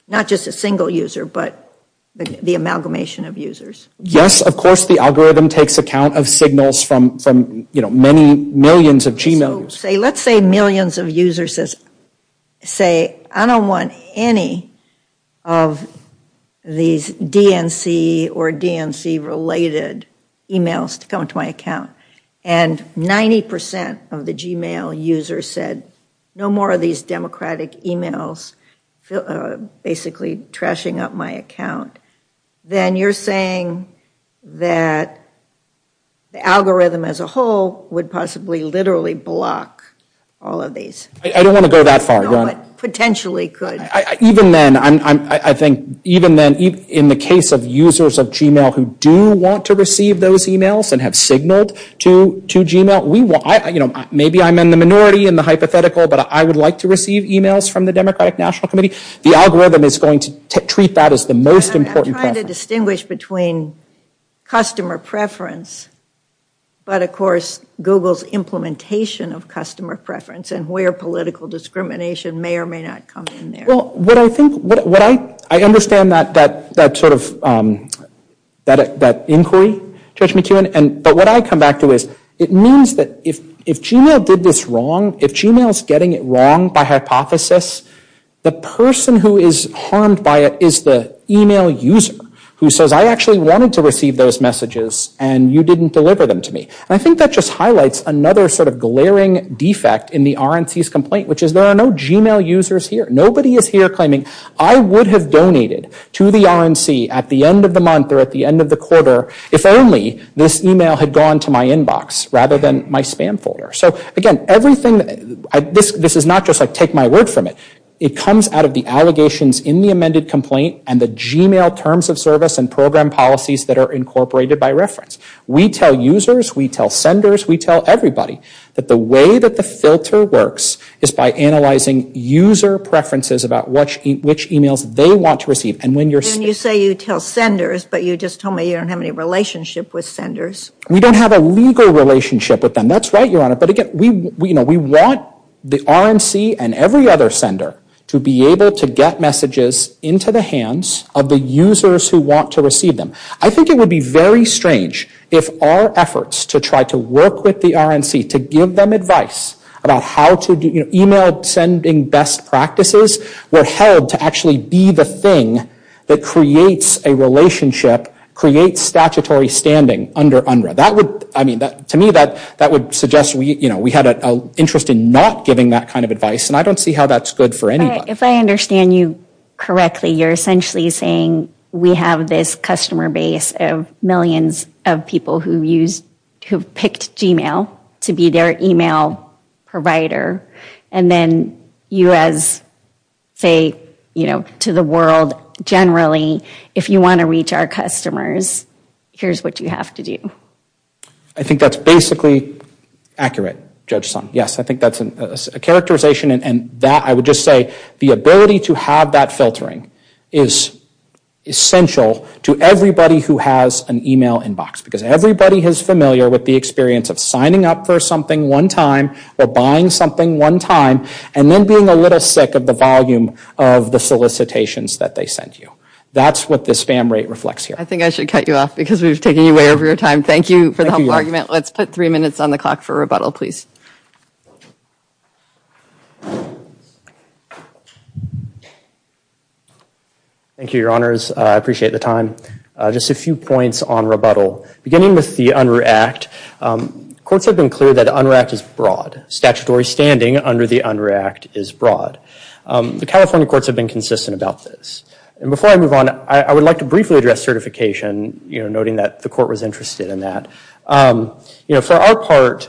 Not just a single user, but the amalgamation of users? Yes, of course the algorithm takes account of signals from many millions of Gmail users. So let's say millions of users say, I don't want any of these DNC or DNC-related emails to come to my account. And 90% of the Gmail users said no more of these Democratic emails basically trashing up my account. Then you're saying that the algorithm as a whole would possibly literally block all of these. I don't want to go that far. Potentially could. Even then, I think even then, in the case of users of Gmail who do want to receive those emails and have signaled to Gmail, maybe I'm in the hypothetical, but I would like to receive emails from the Democratic National Committee, the algorithm is going to treat that as the most important preference. I'm trying to distinguish between customer preference, but of course Google's implementation of customer preference and where political discrimination may or may not come in there. Well, what I think, what I understand that sort of, that inquiry, Judge McKeown, but what I come back to is it means that if Gmail did this wrong, if Gmail's getting it wrong by hypothesis, the person who is harmed by it is the email user who says, I actually wanted to receive those messages and you didn't deliver them to me. I think that just highlights another sort of glaring defect in the RNC's complaint, which is there are no Gmail users here. Nobody is here claiming, I would have donated to the RNC at the end of the month or at the end of the quarter if only this email had gone to my inbox rather than my spam folder. So, again, everything, this is not just like take my word from it. It comes out of the allegations in the amended complaint and the Gmail terms of service and program policies that are incorporated by reference. We tell users, we tell senders, we tell everybody that the way that the filter works is by analyzing user preferences about which emails they want to And when you're... And you say you tell senders, but you just told me you don't have any relationship with senders. We don't have a legal relationship with them. And that's right, Your Honor, but again, we want the RNC and every other sender to be able to get messages into the hands of the users who want to receive them. I think it would be very strange if our efforts to try to work with the RNC to give them advice about how to do email sending best practices were held to actually be the thing that creates a relationship, creates statutory standing under UNRRA. That would, I mean, to me that would suggest we had an interest in not giving that kind of advice, and I don't see how that's good for anybody. If I understand you correctly, you're essentially saying we have this customer base of millions of people who have picked Gmail to be their email provider, and then you as, say, to the world generally, if you want to reach our customers, here's what you have to do. I think that's basically accurate, Judge Sun. Yes, I think that's a characterization, and that, I would just say, the ability to have that filtering is essential to everybody who has an email inbox because everybody is familiar with the experience of signing up for something one time or buying something one time and then being a little sick of the volume of the solicitations that they sent you. That's what this spam rate reflects here. I think I should cut you off because we've taken you way over your time. Thank you for the helpful information. We have three minutes on the clock for rebuttal, please. Thank you, Your Honors. I appreciate the time. Just a few points on rebuttal. Beginning with the Unruh Act, courts have been clear that the Unruh Act is broad. Statutory standing under the Unruh Act is broad. The California courts have been consistent about this. Before I move on, I would like to briefly address certification, noting that the Unruh Act is broad. been consistent in that. For our part,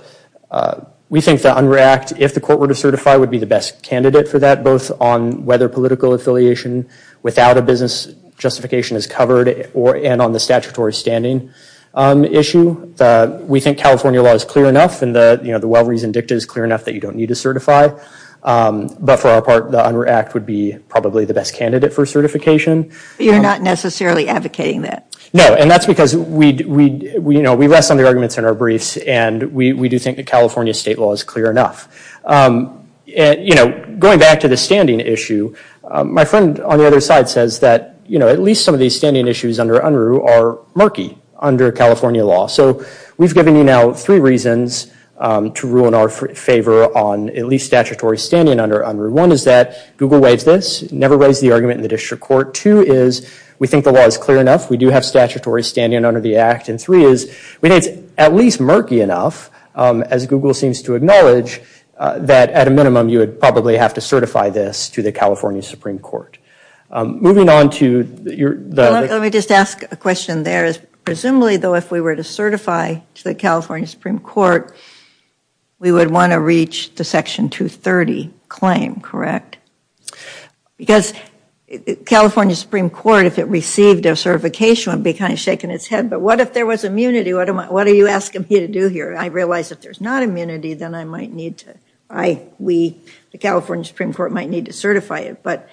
we think the Unruh Act, if the court were to certify, would be the best candidate for that, both on whether political affiliation without a business justification is covered and on the statutory standing issue. We think California law is clear enough and the well- reasoned dicta is clear enough that you don't need to certify. But for our part, the Unruh Act would be probably the best candidate for certification. You're not necessarily advocating that. No, and that's because we rest on the arguments in our briefs and we do think the California state law is clear enough. Going back to the standing issue, my friend on the other side says that at least some of these standing issues under Unruh are murky under California law. We've given you now three reasons to rule in our favor on at least statutory standing under Unruh. One is that Google waves this, never raised the argument in And two is we think the law is clear enough. We do have statutory standing under the act. And three is we think it's at least murky enough, as Google seems to acknowledge, that at a minimum you would probably have to certify this to the California Supreme Court. Moving on to your... Let me just ask a question there. Presumably, though, if we were to certify to the California Supreme Court, we would want to reach the section 230 claim, correct? Because California Supreme Court, if it received a certification, would be kind of shaking its head. But what if there was immunity? What are you asking me to do here? I realize if there's not immunity, then I might need to I, we, the California Supreme Court might need to certify it. But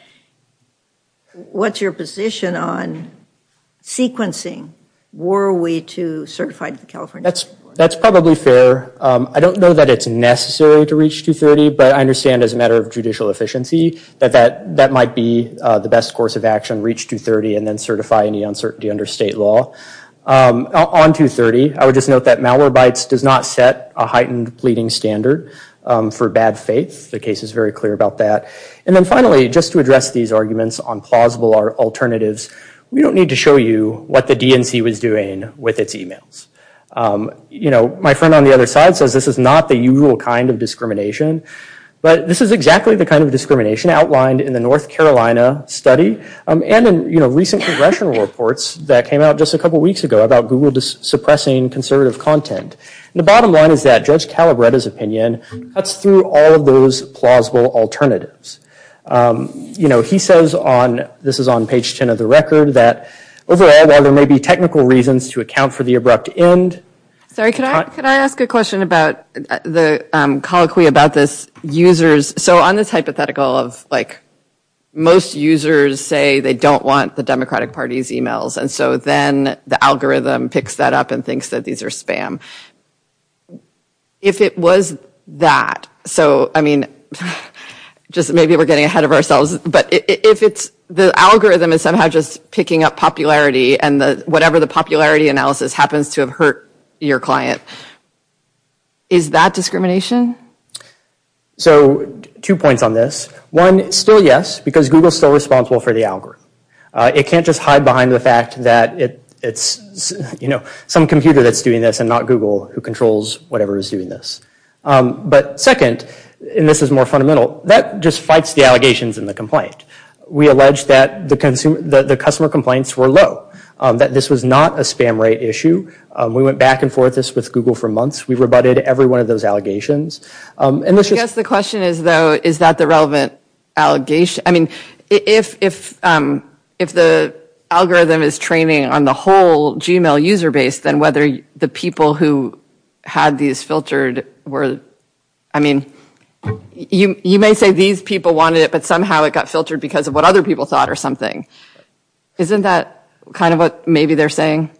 what's your position on sequencing? Were we to certify to the California Supreme Court? That's probably fair. I don't know that it's necessary to reach 230, but I understand as a matter of judicial efficiency that that might be the best course of action, reach 230 and then certify any uncertainty under state law. On 230, I would just note that Malwarebytes does not set a heightened pleading standard for bad faith. The case is very clear about that. And then finally, just to address these arguments on plausible alternatives, we don't need to show you what the DNC was doing with its emails. You know, my friend on the other side says this is not the usual kind of discrimination, but this is exactly the kind of discrimination outlined in the North Carolina study and in recent congressional reports that came out just a couple weeks ago about Google suppressing conservative content. The bottom line is that Judge Calabretta's opinion cuts through all of those plausible alternatives. You know, he says on, this is on page 10 of the record, that overall, while there may be technical reasons to account for the abrupt end... Sorry, could I ask a question about the colloquy about this users... So on this hypothetical of, like, most users say they don't want the Democratic Party's emails, and so then the algorithm picks that up and thinks that these are spam. If it was that, so, I mean, just maybe we're getting ahead of ourselves, but if it's the algorithm is somehow just picking up popularity and whatever the popularity analysis happens to have hurt your client, is that discrimination? So, two points on this. One, still yes, because Google is still responsible for the algorithm. It can't just hide behind the fact that it's, you know, some computer that's doing this and not Google who controls whatever is doing this. But second, and this is more fundamental, that just fights the allegations and the complaint. We allege that the customer complaints were low, that this was not a spam rate issue. We went back and forth with Google for months. We rebutted every one of those allegations. And this was... I guess the question is, though, is that the relevant allegation? I mean, if the algorithm is training on the whole Gmail user base, then whether the people who had these filtered were, I mean, you may say these people wanted it, but somehow it got filtered because of what other people thought or something. Isn't that kind of what maybe they're saying?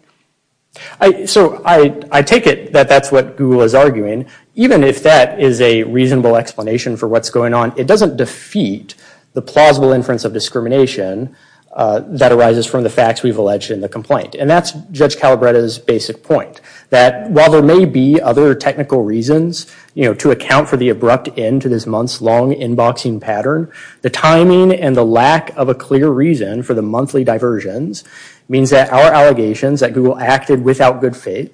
So, I take it that that's what Google is arguing. Even if that is a reasonable explanation for what's going on, it doesn't defeat the plausible inference of discrimination that arises from the facts we've alleged in the complaint. And that's Judge Calabretta's basic point. That while there may be other technical reasons to account for the abrupt end to this month's long inboxing pattern, the timing and the lack of a clear reason for the monthly diversions means that our allegations that Google acted without good faith,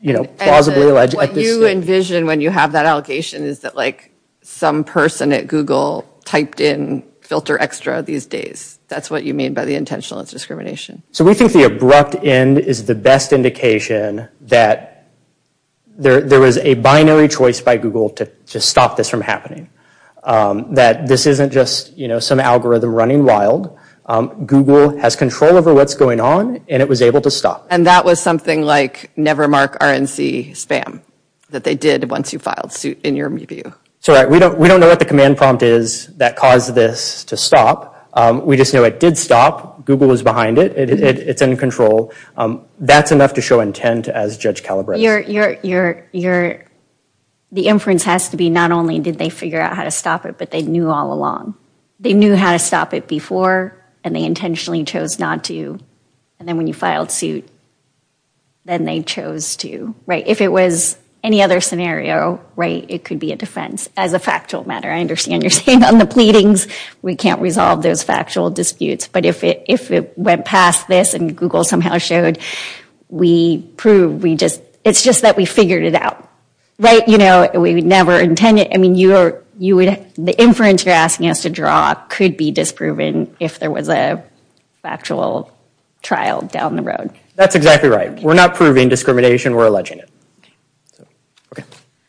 you know, plausibly alleged. And what you envision when you have that allocation is that like some person at Google typed in filter extra these days. That's what you mean by the intentional discrimination. So, we think the abrupt end is the best indication that there was a binary choice by Google to just stop this from happening. That this isn't just, you know, some algorithm running wild. Google has control over what's going on, and it was able to And that was something like never mark RNC spam that they did once you filed suit in your review. So, we don't know what the command prompt is that caused this to stop. We just know it did stop. Google was behind it. It's in control. That's enough to show intent as Judge Calabretta. The inference has to be not only did they figure out how to stop it, but they knew all along. They knew how to stop it before, and they intentionally chose not to. And then when you filed suit, then they chose to, right? If it was any other scenario, right, it could be a defense as a factual matter. I understand you're saying on the pleadings, we can't resolve those factual disputes. But if it went past this and Google somehow showed, we proved we just, it's just that we figured it out, right? You know, we would never intend it. I mean, you would, the inference you're asking us to draw could be disproven if there was a factual trial down the road. That's exactly right. We're not proving discrimination. We're alleging it. Okay.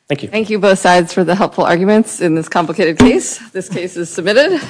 Thank you. Thank you both sides for the helpful arguments in this complicated case. This case is submitted.